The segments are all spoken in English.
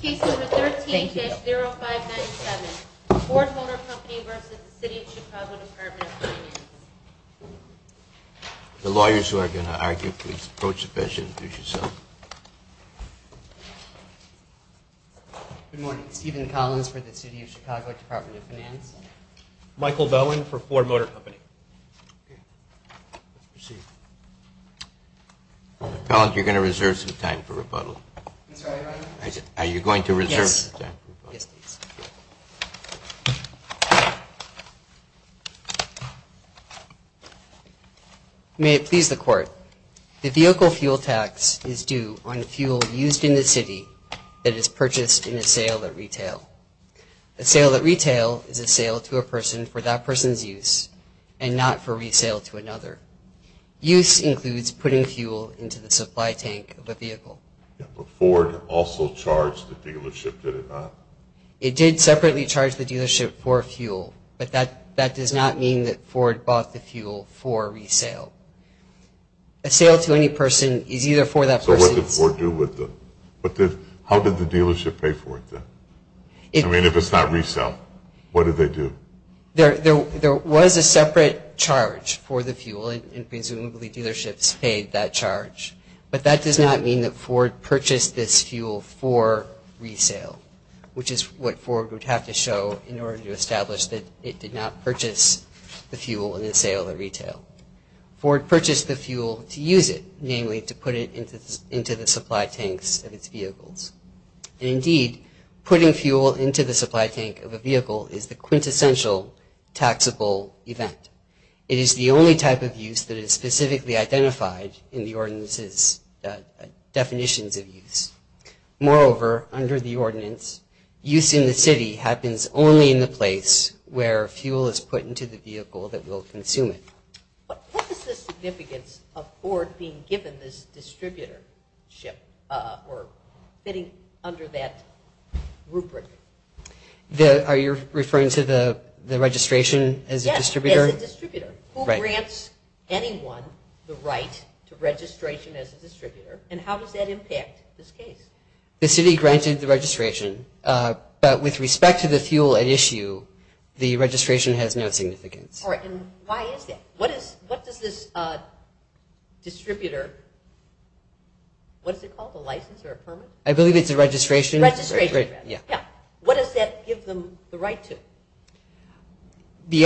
Case number 13-0597. Ford Motor Company v. City of Chicago Department of Finance. The lawyers who are going to argue, please approach the bench and introduce yourself. Good morning. Stephen Collins for the City of Chicago Department of Finance. Michael Bowen for Ford Motor Company. Let's proceed. Mr. Collins, you're going to reserve some time for rebuttal. That's right, Your Honor. Are you going to reserve some time for rebuttal? Yes. Yes, please. May it please the Court. The vehicle fuel tax is due on fuel used in the city that is purchased in a sale at retail. A sale at retail is a sale to a person for that person's use and not for resale to another. Use includes putting fuel into the supply tank of a vehicle. But Ford also charged the dealership, did it not? It did separately charge the dealership for fuel, but that does not mean that Ford bought the fuel for resale. A sale to any person is either for that person's... So what did Ford do with the... How did the dealership pay for it then? I mean, if it's not resale, what did they do? There was a separate charge for the fuel, and presumably dealerships paid that charge. But that does not mean that Ford purchased this fuel for resale, which is what Ford would have to show in order to establish that it did not purchase the fuel in a sale at retail. Ford purchased the fuel to use it, namely to put it into the supply tanks of its vehicles. And indeed, putting fuel into the supply tank of a vehicle is the quintessential taxable event. It is the only type of use that is specifically identified in the ordinance's definitions of use. Moreover, under the ordinance, use in the city happens only in the place where fuel is put into the vehicle that will consume it. What is the significance of Ford being given this distributorship, or fitting under that rubric? Are you referring to the registration as a distributor? Yes, as a distributor. Who grants anyone the right to registration as a distributor, and how does that impact this case? The city granted the registration, but with respect to the fuel at issue, the registration has no significance. All right, and why is that? What does this distributor, what is it called, a license or a permit? I believe it's a registration. Registration, yeah. What does that give them the right to?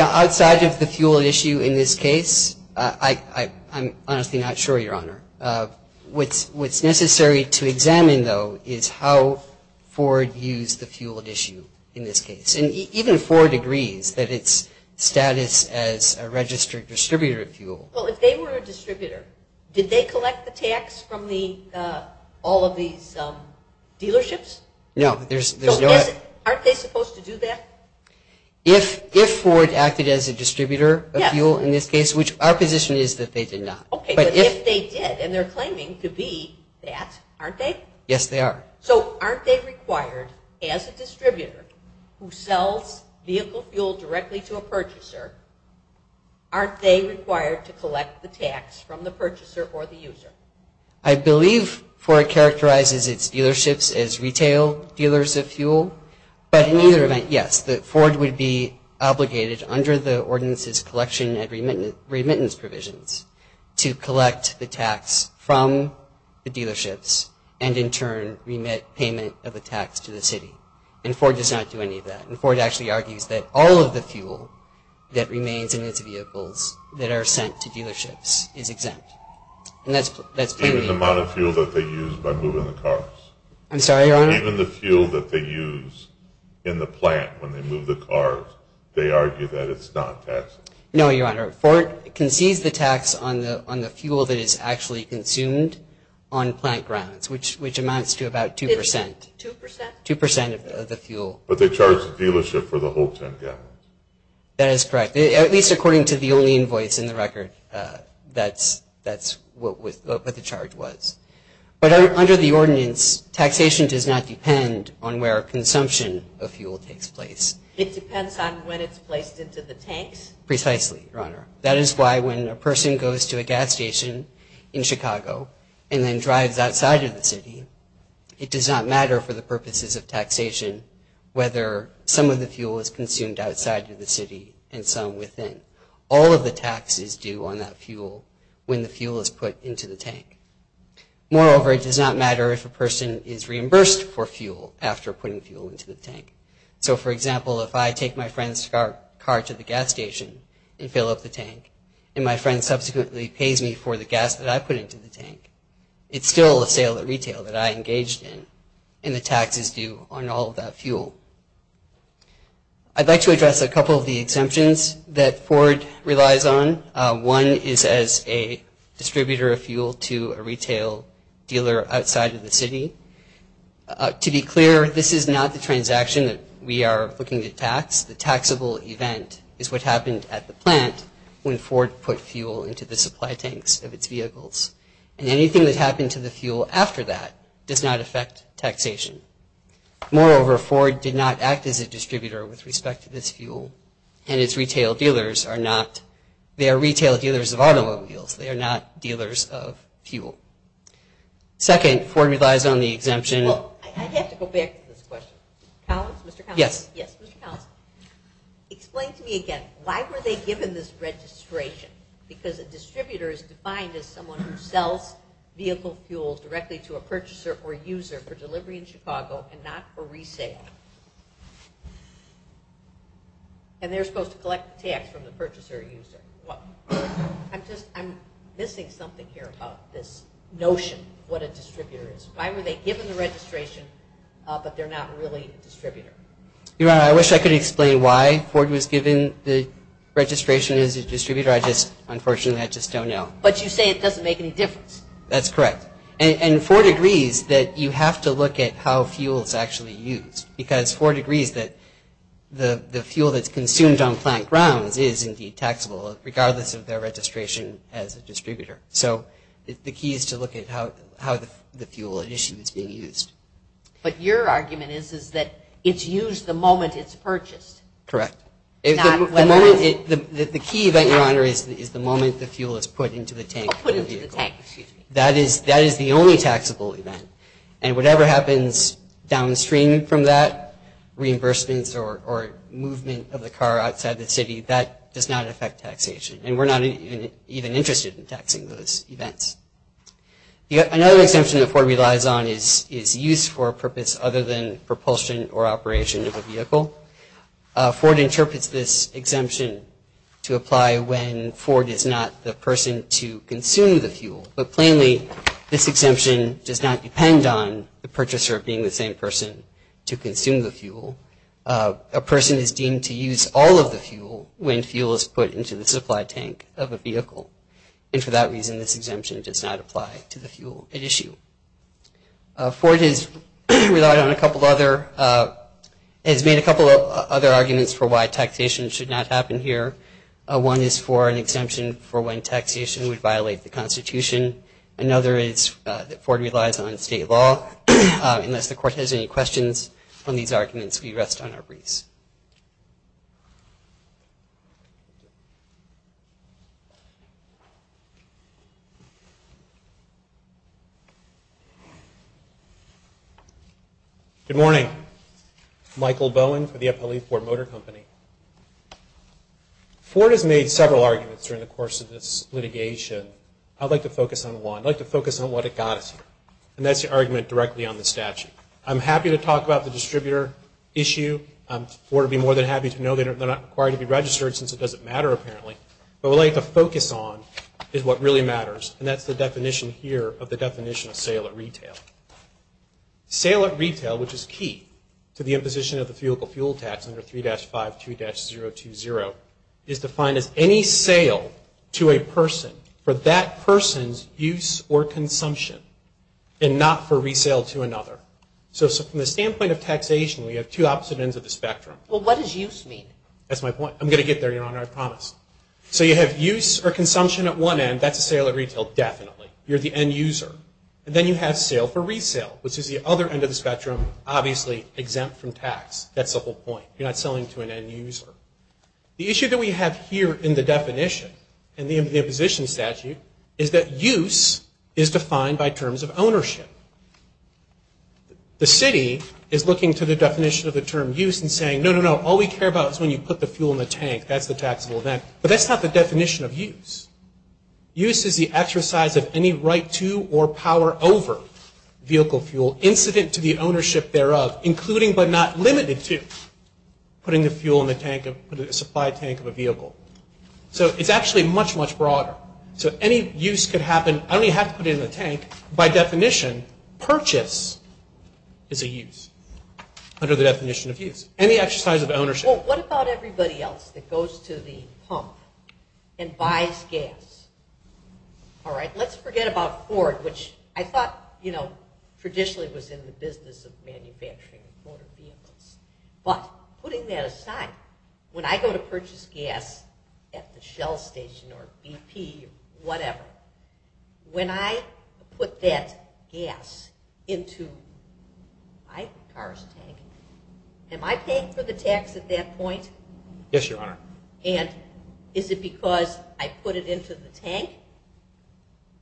Outside of the fuel at issue in this case, I'm honestly not sure, Your Honor. What's necessary to examine, though, is how Ford used the fuel at issue in this case. Even Ford agrees that it's status as a registered distributor of fuel. Well, if they were a distributor, did they collect the tax from all of these dealerships? No, there's no... So aren't they supposed to do that? If Ford acted as a distributor of fuel in this case, which our position is that they did not. Okay, but if they did, and they're claiming to be that, aren't they? Yes, they are. So aren't they required, as a distributor who sells vehicle fuel directly to a purchaser, aren't they required to collect the tax from the purchaser or the user? I believe Ford characterizes its dealerships as retail dealers of fuel, but in either event, yes, that Ford would be obligated under the ordinances collection and remittance provisions to collect the tax from the dealerships and in turn remit payment of the tax to the city. And Ford does not do any of that. And Ford actually argues that all of the fuel that remains in its vehicles that are sent to dealerships is exempt. And that's plainly... Even the amount of fuel that they use by moving the cars? I'm sorry, Your Honor? Even the fuel that they use in the plant when they move the cars, they argue that it's not taxed? No, Your Honor. Ford concedes the tax on the fuel that is actually consumed on plant grounds, which amounts to about 2%. 2%? 2% of the fuel. But they charge the dealership for the whole 10 gallons? That is correct. At least according to the only invoice in the record, that's what the charge was. But under the ordinance, taxation does not depend on where consumption of fuel takes place. It depends on when it's placed into the tanks? Precisely, Your Honor. That is why when a person goes to a gas station in Chicago and then drives outside of the city, it does not matter for the purposes of taxation whether some of the fuel is consumed outside of the city and some within. All of the tax is due on that fuel when the fuel is put into the tank. Moreover, it does not matter if a person is reimbursed for fuel after putting fuel into the tank. So, for example, if I take my friend's car to the gas station and fill up the tank, and my friend subsequently pays me for the gas that I put into the tank, it's still a sale at retail that I engaged in, and the tax is due on all of that fuel. I'd like to address a couple of the exemptions that Ford relies on. One is as a distributor of fuel to a retail dealer outside of the city. To be clear, this is not the transaction that we are looking to tax. The taxable event is what happened at the plant when Ford put fuel into the supply tanks of its vehicles, and anything that happened to the fuel after that does not affect taxation. Moreover, Ford did not act as a distributor with respect to this fuel, and its retail dealers are not. They are retail dealers of automobiles. They are not dealers of fuel. Second, Ford relies on the exemption. Well, I have to go back to this question. Collins? Mr. Collins? Yes. Yes, Mr. Collins. Explain to me again, why were they given this registration? Because a distributor is defined as someone who sells vehicle fuel directly to a purchaser or user for delivery in Chicago and not for resale. And they're supposed to collect the tax from the purchaser or user. I'm missing something here about this notion of what a distributor is. Why were they given the registration, but they're not really a distributor? Your Honor, I wish I could explain why Ford was given the registration as a distributor. Unfortunately, I just don't know. But you say it doesn't make any difference. That's correct. And Ford agrees that you have to look at how fuel is actually used, because Ford agrees that the fuel that's consumed on plant grounds is indeed taxable, regardless of their registration as a distributor. So the key is to look at how the fuel issue is being used. But your argument is that it's used the moment it's purchased. Correct. The key event, Your Honor, is the moment the fuel is put into the tank of the vehicle. That is the only taxable event. And whatever happens downstream from that, reimbursements or movement of the car outside the city, that does not affect taxation. And we're not even interested in taxing those events. Another exemption that Ford relies on is use for a purpose other than propulsion or operation of a vehicle. Ford interprets this exemption to apply when Ford is not the person to consume the fuel. But plainly, this exemption does not depend on the purchaser being the same person to consume the fuel. A person is deemed to use all of the fuel when fuel is put into the supply tank of a vehicle. And for that reason, this exemption does not apply to the fuel at issue. Ford has relied on a couple other – has made a couple of other arguments for why taxation should not happen here. One is for an exemption for when taxation would violate the Constitution. Another is that Ford relies on state law. Unless the Court has any questions on these arguments, we rest on our breeze. Thank you. Good morning. Michael Bowen for the FLE Ford Motor Company. Ford has made several arguments during the course of this litigation. I'd like to focus on one. I'd like to focus on what it got us here. And that's the argument directly on the statute. I'm happy to talk about the distributor issue. Ford would be more than happy to know they're not required to be registered since it doesn't matter apparently. But what I'd like to focus on is what really matters. And that's the definition here of the definition of sale at retail. Sale at retail, which is key to the imposition of the vehicle fuel tax under 3-52-020, is defined as any sale to a person for that person's use or consumption and not for resale to another. So from the standpoint of taxation, we have two opposite ends of the spectrum. Well, what does use mean? That's my point. I'm going to get there, Your Honor. I promise. So you have use or consumption at one end. That's a sale at retail definitely. You're the end user. And then you have sale for resale, which is the other end of the spectrum, obviously exempt from tax. That's the whole point. You're not selling to an end user. The issue that we have here in the definition in the imposition statute is that use is defined by terms of ownership. The city is looking to the definition of the term use and saying, no, no, no, all we care about is when you put the fuel in the tank. That's the taxable event. But that's not the definition of use. Use is the exercise of any right to or power over vehicle fuel incident to the ownership thereof, including but not limited to putting the fuel in the supply tank of a vehicle. So it's actually much, much broader. So any use could happen. I don't even have to put it in the tank. By definition, purchase is a use under the definition of use. Any exercise of ownership. Well, what about everybody else that goes to the pump and buys gas? All right. Let's forget about Ford, which I thought, you know, traditionally was in the business of manufacturing motor vehicles. But putting that aside, when I go to purchase gas at the Shell station or BP or whatever, when I put that gas into my car's tank, am I paying for the tax at that point? Yes, Your Honor. And is it because I put it into the tank?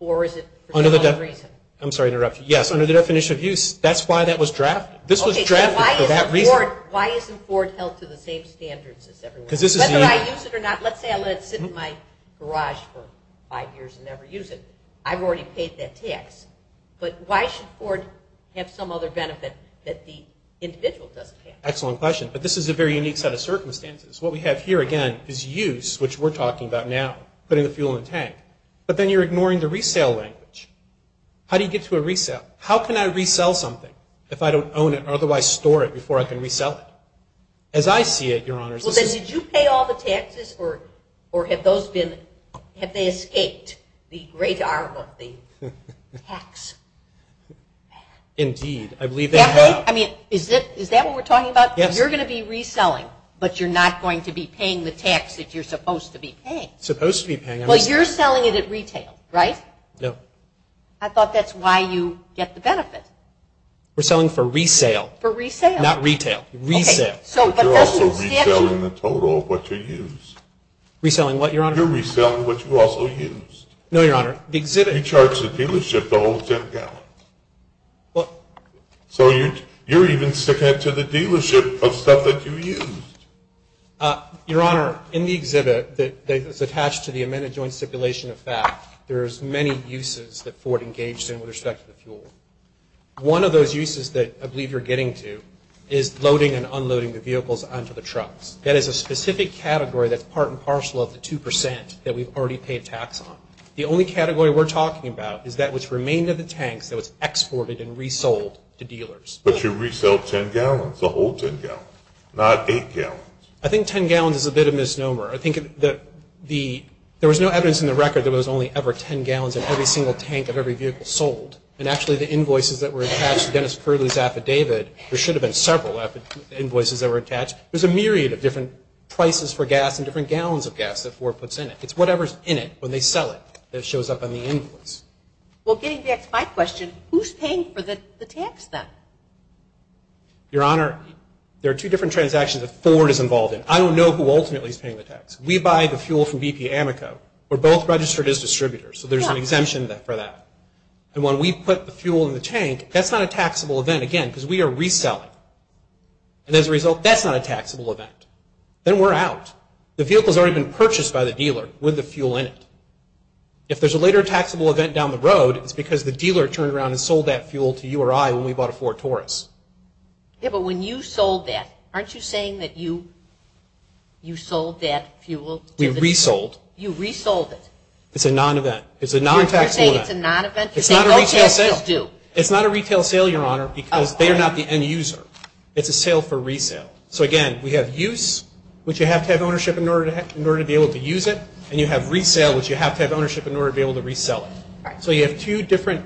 Or is it for some other reason? I'm sorry to interrupt you. Yes, under the definition of use. That's why that was drafted. This was drafted for that reason. Okay. So why isn't Ford held to the same standards as everyone else? Whether I use it or not. Let's say I let it sit in my garage for five years and never use it. I've already paid that tax. But why should Ford have some other benefit that the individual doesn't have? Excellent question. But this is a very unique set of circumstances. What we have here, again, is use, which we're talking about now, putting the fuel in the tank. But then you're ignoring the resale language. How do you get to a resale? How can I resell something if I don't own it or otherwise store it before I can resell it? As I see it, Your Honor, this is – Well, then did you pay all the taxes or have those been – have they escaped the great arm of the tax? Indeed. I believe they have. I mean, is that what we're talking about? Yes. So you're going to be reselling, but you're not going to be paying the tax that you're supposed to be paying. Supposed to be paying. Well, you're selling it at retail, right? No. I thought that's why you get the benefit. We're selling for resale. For resale. Not retail. Okay. Resale. But you're also reselling the total of what you use. Reselling what, Your Honor? You're reselling what you also used. No, Your Honor. He charges the dealership the whole 10 gallons. So you're even sticking it to the dealership of stuff that you used. Your Honor, in the exhibit that's attached to the amended joint stipulation of fact, there's many uses that Ford engaged in with respect to the fuel. One of those uses that I believe you're getting to is loading and unloading the vehicles onto the trucks. That is a specific category that's part and parcel of the 2 percent that we've already paid tax on. The only category we're talking about is that which remained of the tanks that was exported and resold to dealers. But you resell 10 gallons, the whole 10 gallons, not 8 gallons. I think 10 gallons is a bit of a misnomer. I think there was no evidence in the record that there was only ever 10 gallons in every single tank of every vehicle sold. And actually, the invoices that were attached to Dennis Curley's affidavit, there should have been several invoices that were attached. There's a myriad of different prices for gas and different gallons of gas that Ford puts in it. It's whatever's in it when they sell it that shows up on the invoices. Well, getting back to my question, who's paying for the tax then? Your Honor, there are two different transactions that Ford is involved in. I don't know who ultimately is paying the tax. We buy the fuel from BP Amico. We're both registered as distributors, so there's an exemption for that. And when we put the fuel in the tank, that's not a taxable event, again, because we are reselling. And as a result, that's not a taxable event. Then we're out. The vehicle's already been purchased by the dealer with the fuel in it. If there's a later taxable event down the road, it's because the dealer turned around and sold that fuel to you or I when we bought a Ford Taurus. Yeah, but when you sold that, aren't you saying that you sold that fuel to the dealer? We resold. You resold it? It's a non-event. It's a non-taxable event. You're saying it's a non-event? It's not a retail sale. Okay, let's just do. It's not a retail sale, Your Honor, because they are not the end user. It's a sale for resale. So, again, we have use, which you have to have ownership in order to be able to use it, and you have resale, which you have to have ownership in order to be able to resell it. So you have two different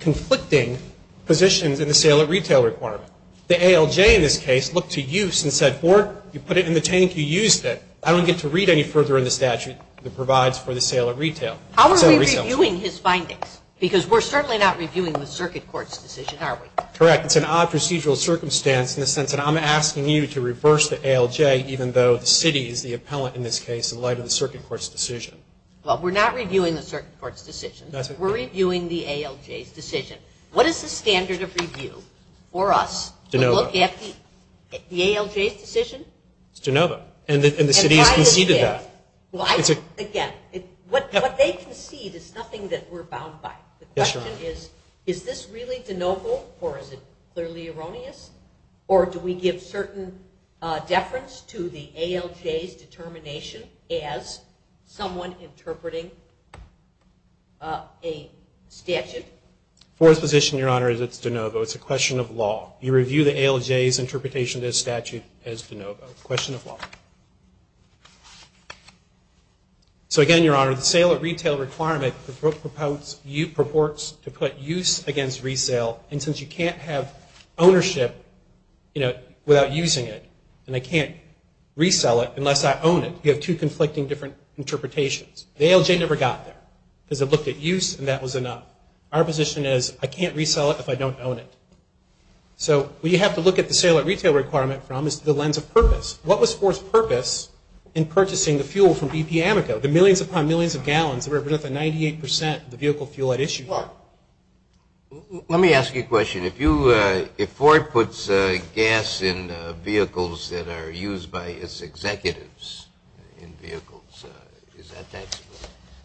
conflicting positions in the sale at retail requirement. The ALJ in this case looked to use and said, Ford, you put it in the tank, you used it. I don't get to read any further in the statute that provides for the sale at retail. How are we reviewing his findings? Because we're certainly not reviewing the circuit court's decision, are we? Correct. It's an odd procedural circumstance in the sense that I'm asking you to reverse the ALJ, even though the city is the appellant in this case in light of the circuit court's decision. Well, we're not reviewing the circuit court's decision. We're reviewing the ALJ's decision. What is the standard of review for us to look at the ALJ's decision? It's de novo. And the city has conceded that. Again, what they concede is nothing that we're bound by. Yes, Your Honor. My question is, is this really de novo or is it clearly erroneous? Or do we give certain deference to the ALJ's determination as someone interpreting a statute? Ford's position, Your Honor, is it's de novo. It's a question of law. You review the ALJ's interpretation of the statute as de novo. It's a question of law. So, again, Your Honor, the sale at retail requirement purports to put use against resale. And since you can't have ownership without using it, and I can't resell it unless I own it, you have two conflicting different interpretations. The ALJ never got there because it looked at use and that was enough. Our position is I can't resell it if I don't own it. So what you have to look at the sale at retail requirement from is the lens of purpose. What was Ford's purpose in purchasing the fuel from BP Amico, the millions upon millions of gallons that represent the 98% of the vehicle fuel at issue here? Let me ask you a question. If Ford puts gas in vehicles that are used by its executives in vehicles, is that taxable?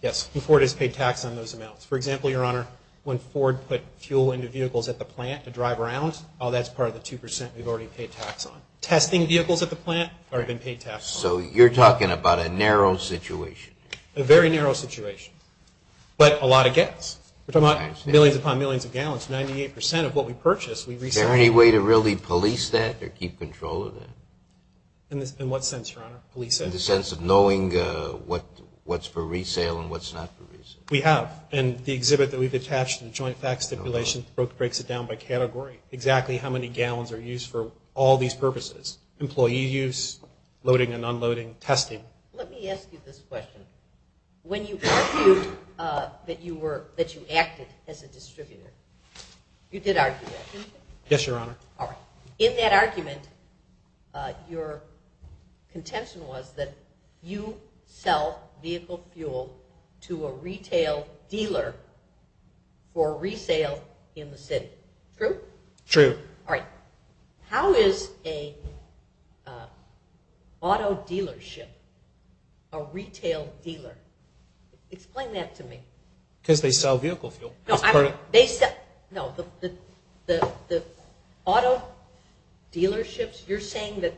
Yes, Ford has paid tax on those amounts. For example, Your Honor, when Ford put fuel into vehicles at the plant to drive around, that's part of the 2% we've already paid tax on. Testing vehicles at the plant are being paid tax on. So you're talking about a narrow situation. A very narrow situation. But a lot of gas. We're talking about millions upon millions of gallons. 98% of what we purchase we resell. Is there any way to really police that or keep control of that? In what sense, Your Honor, police it? In the sense of knowing what's for resale and what's not for resale. We have. And the exhibit that we've attached to the joint tax stipulation breaks it down by category, exactly how many gallons are used for all these purposes. Employee use, loading and unloading, testing. Let me ask you this question. When you argued that you acted as a distributor, you did argue that, didn't you? Yes, Your Honor. All right. In that argument, your contention was that you sell vehicle fuel to a retail dealer for resale in the city. Is it true? True. All right. How is an auto dealership a retail dealer? Explain that to me. Because they sell vehicle fuel. No, the auto dealerships, you're saying that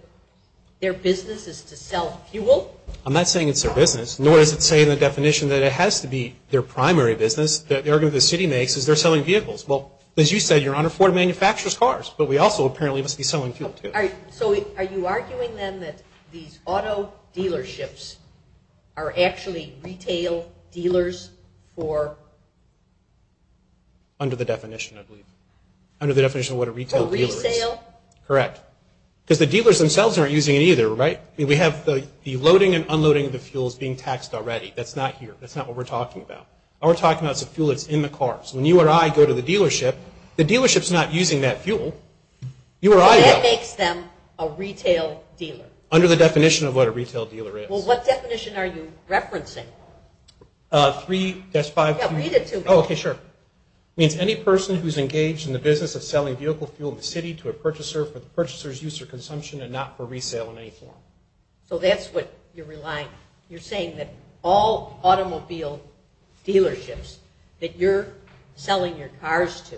their business is to sell fuel? I'm not saying it's their business. Nor is it saying in the definition that it has to be their primary business. The argument the city makes is they're selling vehicles. Well, as you said, Your Honor, Ford manufactures cars, but we also apparently must be selling fuel too. All right. So are you arguing then that these auto dealerships are actually retail dealers for? Under the definition, I believe. Under the definition of what a retail dealer is. For resale? Correct. Because the dealers themselves aren't using it either, right? We have the loading and unloading of the fuels being taxed already. That's not here. That's not what we're talking about. What we're talking about is the fuel that's in the cars. When you or I go to the dealership, the dealership's not using that fuel. You or I go. That makes them a retail dealer. Under the definition of what a retail dealer is. Well, what definition are you referencing? 3-5-2. Yeah, read it to me. Okay, sure. It means any person who's engaged in the business of selling vehicle fuel in the city to a purchaser for the purchaser's use or consumption and not for resale in any form. So that's what you're relying on. You're saying that all automobile dealerships that you're selling your cars to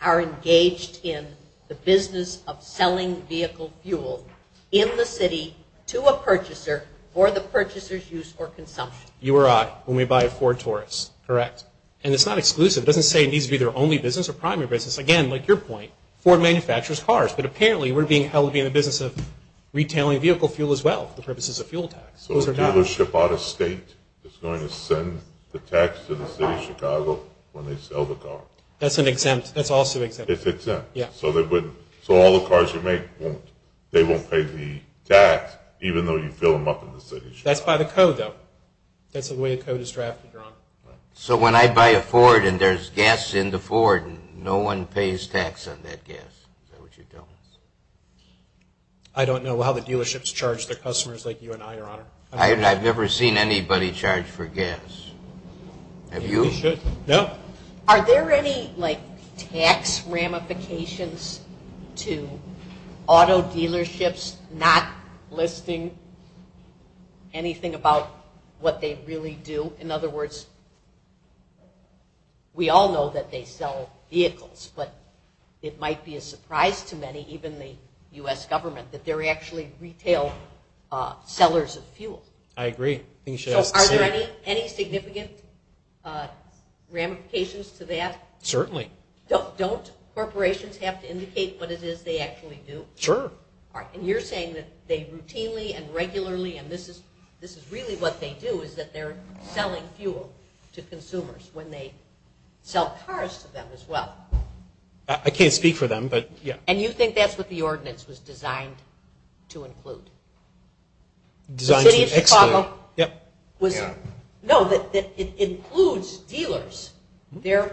are engaged in the business of selling vehicle fuel in the city to a purchaser for the purchaser's use or consumption. You or I, when we buy a Ford Taurus. Correct. And it's not exclusive. It doesn't say it needs to be their only business or primary business. Again, like your point, Ford manufactures cars. But apparently we're being held to be in the business of retailing vehicle fuel as well for the purposes of fuel tax. So a dealership out of state is going to send the tax to the city of Chicago when they sell the car. That's an exempt. That's also exempt. It's exempt. Yeah. So all the cars you make, they won't pay the tax even though you fill them up in the city of Chicago. That's by the code, though. That's the way the code is drafted. So when I buy a Ford and there's gas in the Ford, no one pays tax on that gas. Is that what you're telling us? I don't know how the dealerships charge their customers like you and I, Your Honor. I've never seen anybody charge for gas. Have you? No. Are there any, like, tax ramifications to auto dealerships not listing anything about what they really do? In other words, we all know that they sell vehicles, but it might be a surprise to many, even the U.S. government, that they're actually retail sellers of fuel. I agree. So are there any significant ramifications to that? Certainly. Don't corporations have to indicate what it is they actually do? Sure. And you're saying that they routinely and regularly, and this is really what they do, is that they're selling fuel to consumers when they sell cars to them as well. I can't speak for them, but, yeah. And you think that's what the ordinance was designed to include? Designed to exclude. The city of Chicago? Yeah. No, it includes dealers. They're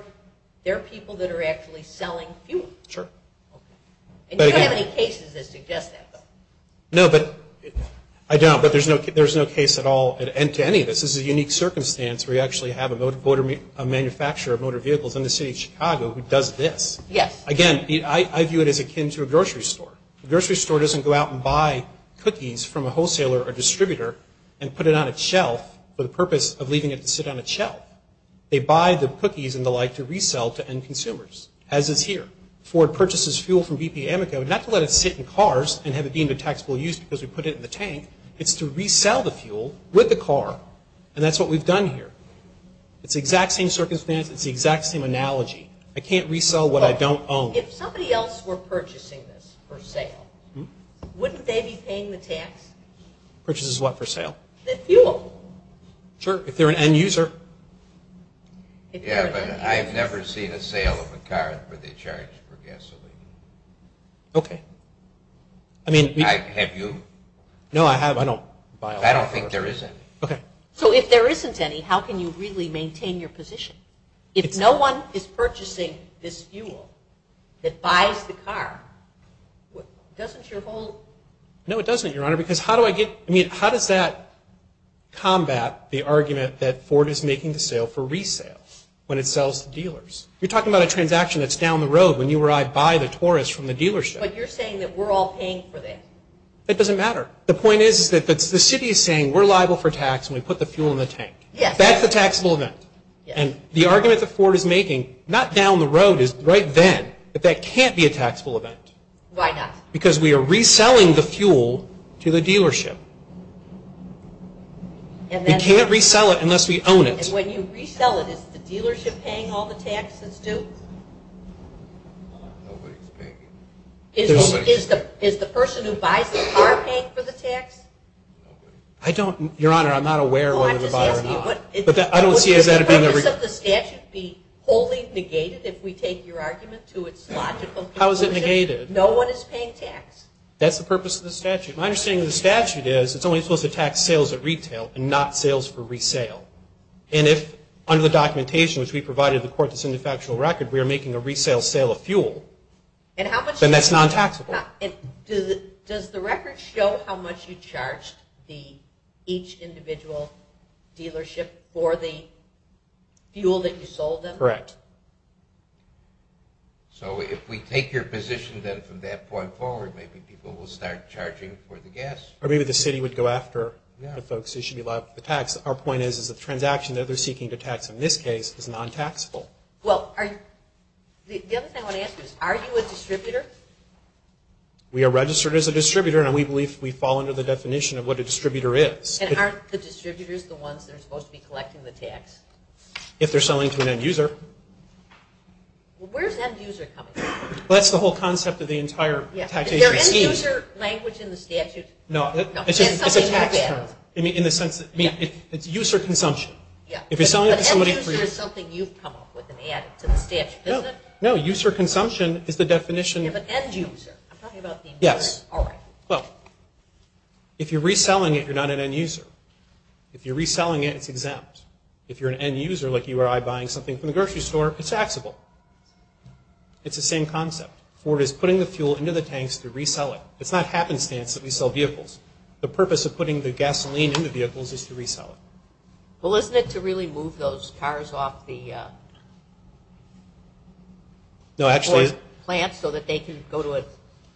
people that are actually selling fuel. Sure. And you don't have any cases that suggest that. No, but I don't, but there's no case at all to any of this. This is a unique circumstance where you actually have a manufacturer of motor vehicles in the city of Chicago who does this. Yes. Again, I view it as akin to a grocery store. A grocery store doesn't go out and buy cookies from a wholesaler or distributor and put it on a shelf for the purpose of leaving it to sit on a shelf. They buy the cookies and the like to resell to end consumers, as is here. Ford purchases fuel from BP Amico not to let it sit in cars and have it deemed a taxable use because we put it in the tank. It's to resell the fuel with the car, and that's what we've done here. It's the exact same circumstance. It's the exact same analogy. I can't resell what I don't own. If somebody else were purchasing this for sale, wouldn't they be paying the tax? Purchases what for sale? The fuel. Sure, if they're an end user. Yeah, but I've never seen a sale of a car for the charge for gasoline. Okay. Have you? No, I have. I don't buy a lot. I don't think there is any. Okay. So if there isn't any, how can you really maintain your position? If no one is purchasing this fuel that buys the car, doesn't your whole… No, it doesn't, Your Honor, because how do I get – I mean, how does that combat the argument that Ford is making the sale for resale when it sells to dealers? You're talking about a transaction that's down the road when you arrive by the Taurus from the dealership. But you're saying that we're all paying for that. That doesn't matter. The point is that the city is saying we're liable for tax and we put the fuel in the tank. Yes. That's a taxable event. And the argument that Ford is making, not down the road, is right then, that that can't be a taxable event. Why not? Because we are reselling the fuel to the dealership. We can't resell it unless we own it. And when you resell it, is the dealership paying all the taxes too? Is the person who buys the car paying for the tax? I don't – Your Honor, I'm not aware whether the buyer or not. Would the purpose of the statute be wholly negated if we take your argument to its logical conclusion? How is it negated? No one is paying tax. That's the purpose of the statute. My understanding of the statute is it's only supposed to tax sales at retail and not sales for resale. And if, under the documentation which we provided to the court that's in the factual record, we are making a resale sale of fuel, then that's non-taxable. Does the record show how much you charged each individual dealership for the fuel that you sold them? Correct. So if we take your position then from that point forward, maybe people will start charging for the gas. Or maybe the city would go after the folks who should be liable for the tax. Our point is, is the transaction that they're seeking to tax in this case is non-taxable. Well, the other thing I want to ask you is, are you a distributor? We are registered as a distributor, and we believe we fall under the definition of what a distributor is. And aren't the distributors the ones that are supposed to be collecting the tax? If they're selling to an end-user. Well, where's end-user coming from? Well, that's the whole concept of the entire taxation scheme. Is there an end-user language in the statute? No, it's a tax term in the sense that it's user consumption. If you're selling it to somebody. An end-user is something you've come up with and added to the statute, isn't it? No, user consumption is the definition. Yeah, but end-user. I'm talking about the end-user. Yes. All right. Well, if you're reselling it, you're not an end-user. If you're reselling it, it's exempt. If you're an end-user, like you or I buying something from the grocery store, it's taxable. It's the same concept. Ford is putting the fuel into the tanks to resell it. It's not happenstance that we sell vehicles. The purpose of putting the gasoline in the vehicles is to resell it. Well, isn't it to really move those cars off the Ford plant so that they can go to a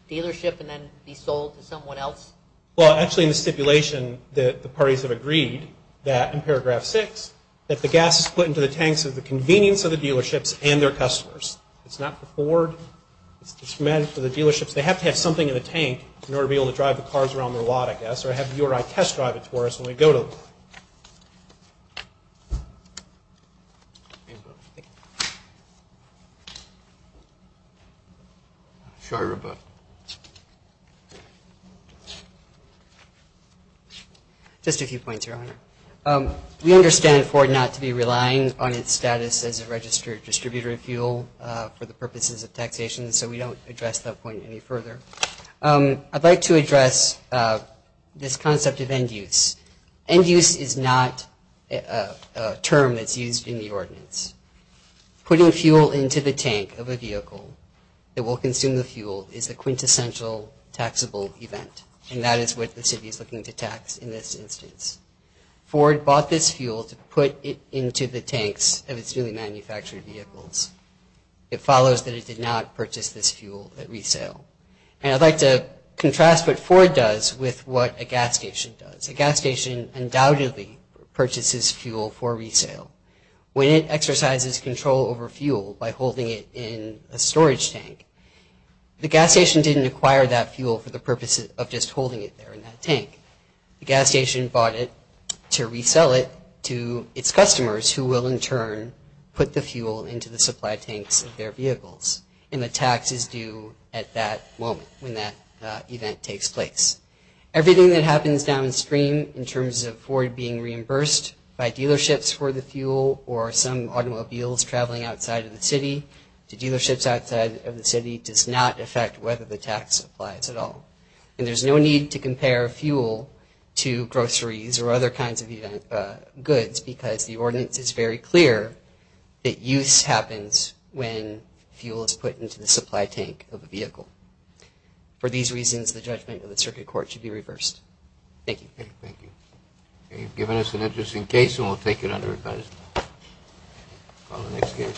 dealership and then be sold to someone else? Well, actually, in the stipulation, the parties have agreed that, in paragraph 6, that the gas is put into the tanks at the convenience of the dealerships and their customers. It's not for Ford. It's just meant for the dealerships. They have to have something in the tank in order to be able to drive the cars around their lot, I guess, or have you or I test drive it to where it's going to go to. Thank you. Just a few points, Your Honor. We understand Ford not to be relying on its status as a registered distributor of fuel for the purposes of taxation, so we don't address that point any further. I'd like to address this concept of end use. End use is not a term that's used in the ordinance. Putting fuel into the tank of a vehicle that will consume the fuel is a quintessential taxable event, and that is what the city is looking to tax in this instance. Ford bought this fuel to put it into the tanks of its newly manufactured vehicles. It follows that it did not purchase this fuel at resale. And I'd like to contrast what Ford does with what a gas station does. A gas station undoubtedly purchases fuel for resale. When it exercises control over fuel by holding it in a storage tank, the gas station didn't acquire that fuel for the purpose of just holding it there in that tank. The gas station bought it to resell it to its customers, who will in turn put the fuel into the supply tanks of their vehicles. And the tax is due at that moment when that event takes place. Everything that happens downstream in terms of Ford being reimbursed by dealerships for the fuel or some automobiles traveling outside of the city to dealerships outside of the city does not affect whether the tax applies at all. And there's no need to compare fuel to groceries or other kinds of goods because the ordinance is very clear that use happens when fuel is put into the supply tank of a vehicle. For these reasons, the judgment of the circuit court should be reversed. Thank you. Thank you. Okay, you've given us an interesting case, and we'll take it under advisement. Call the next case.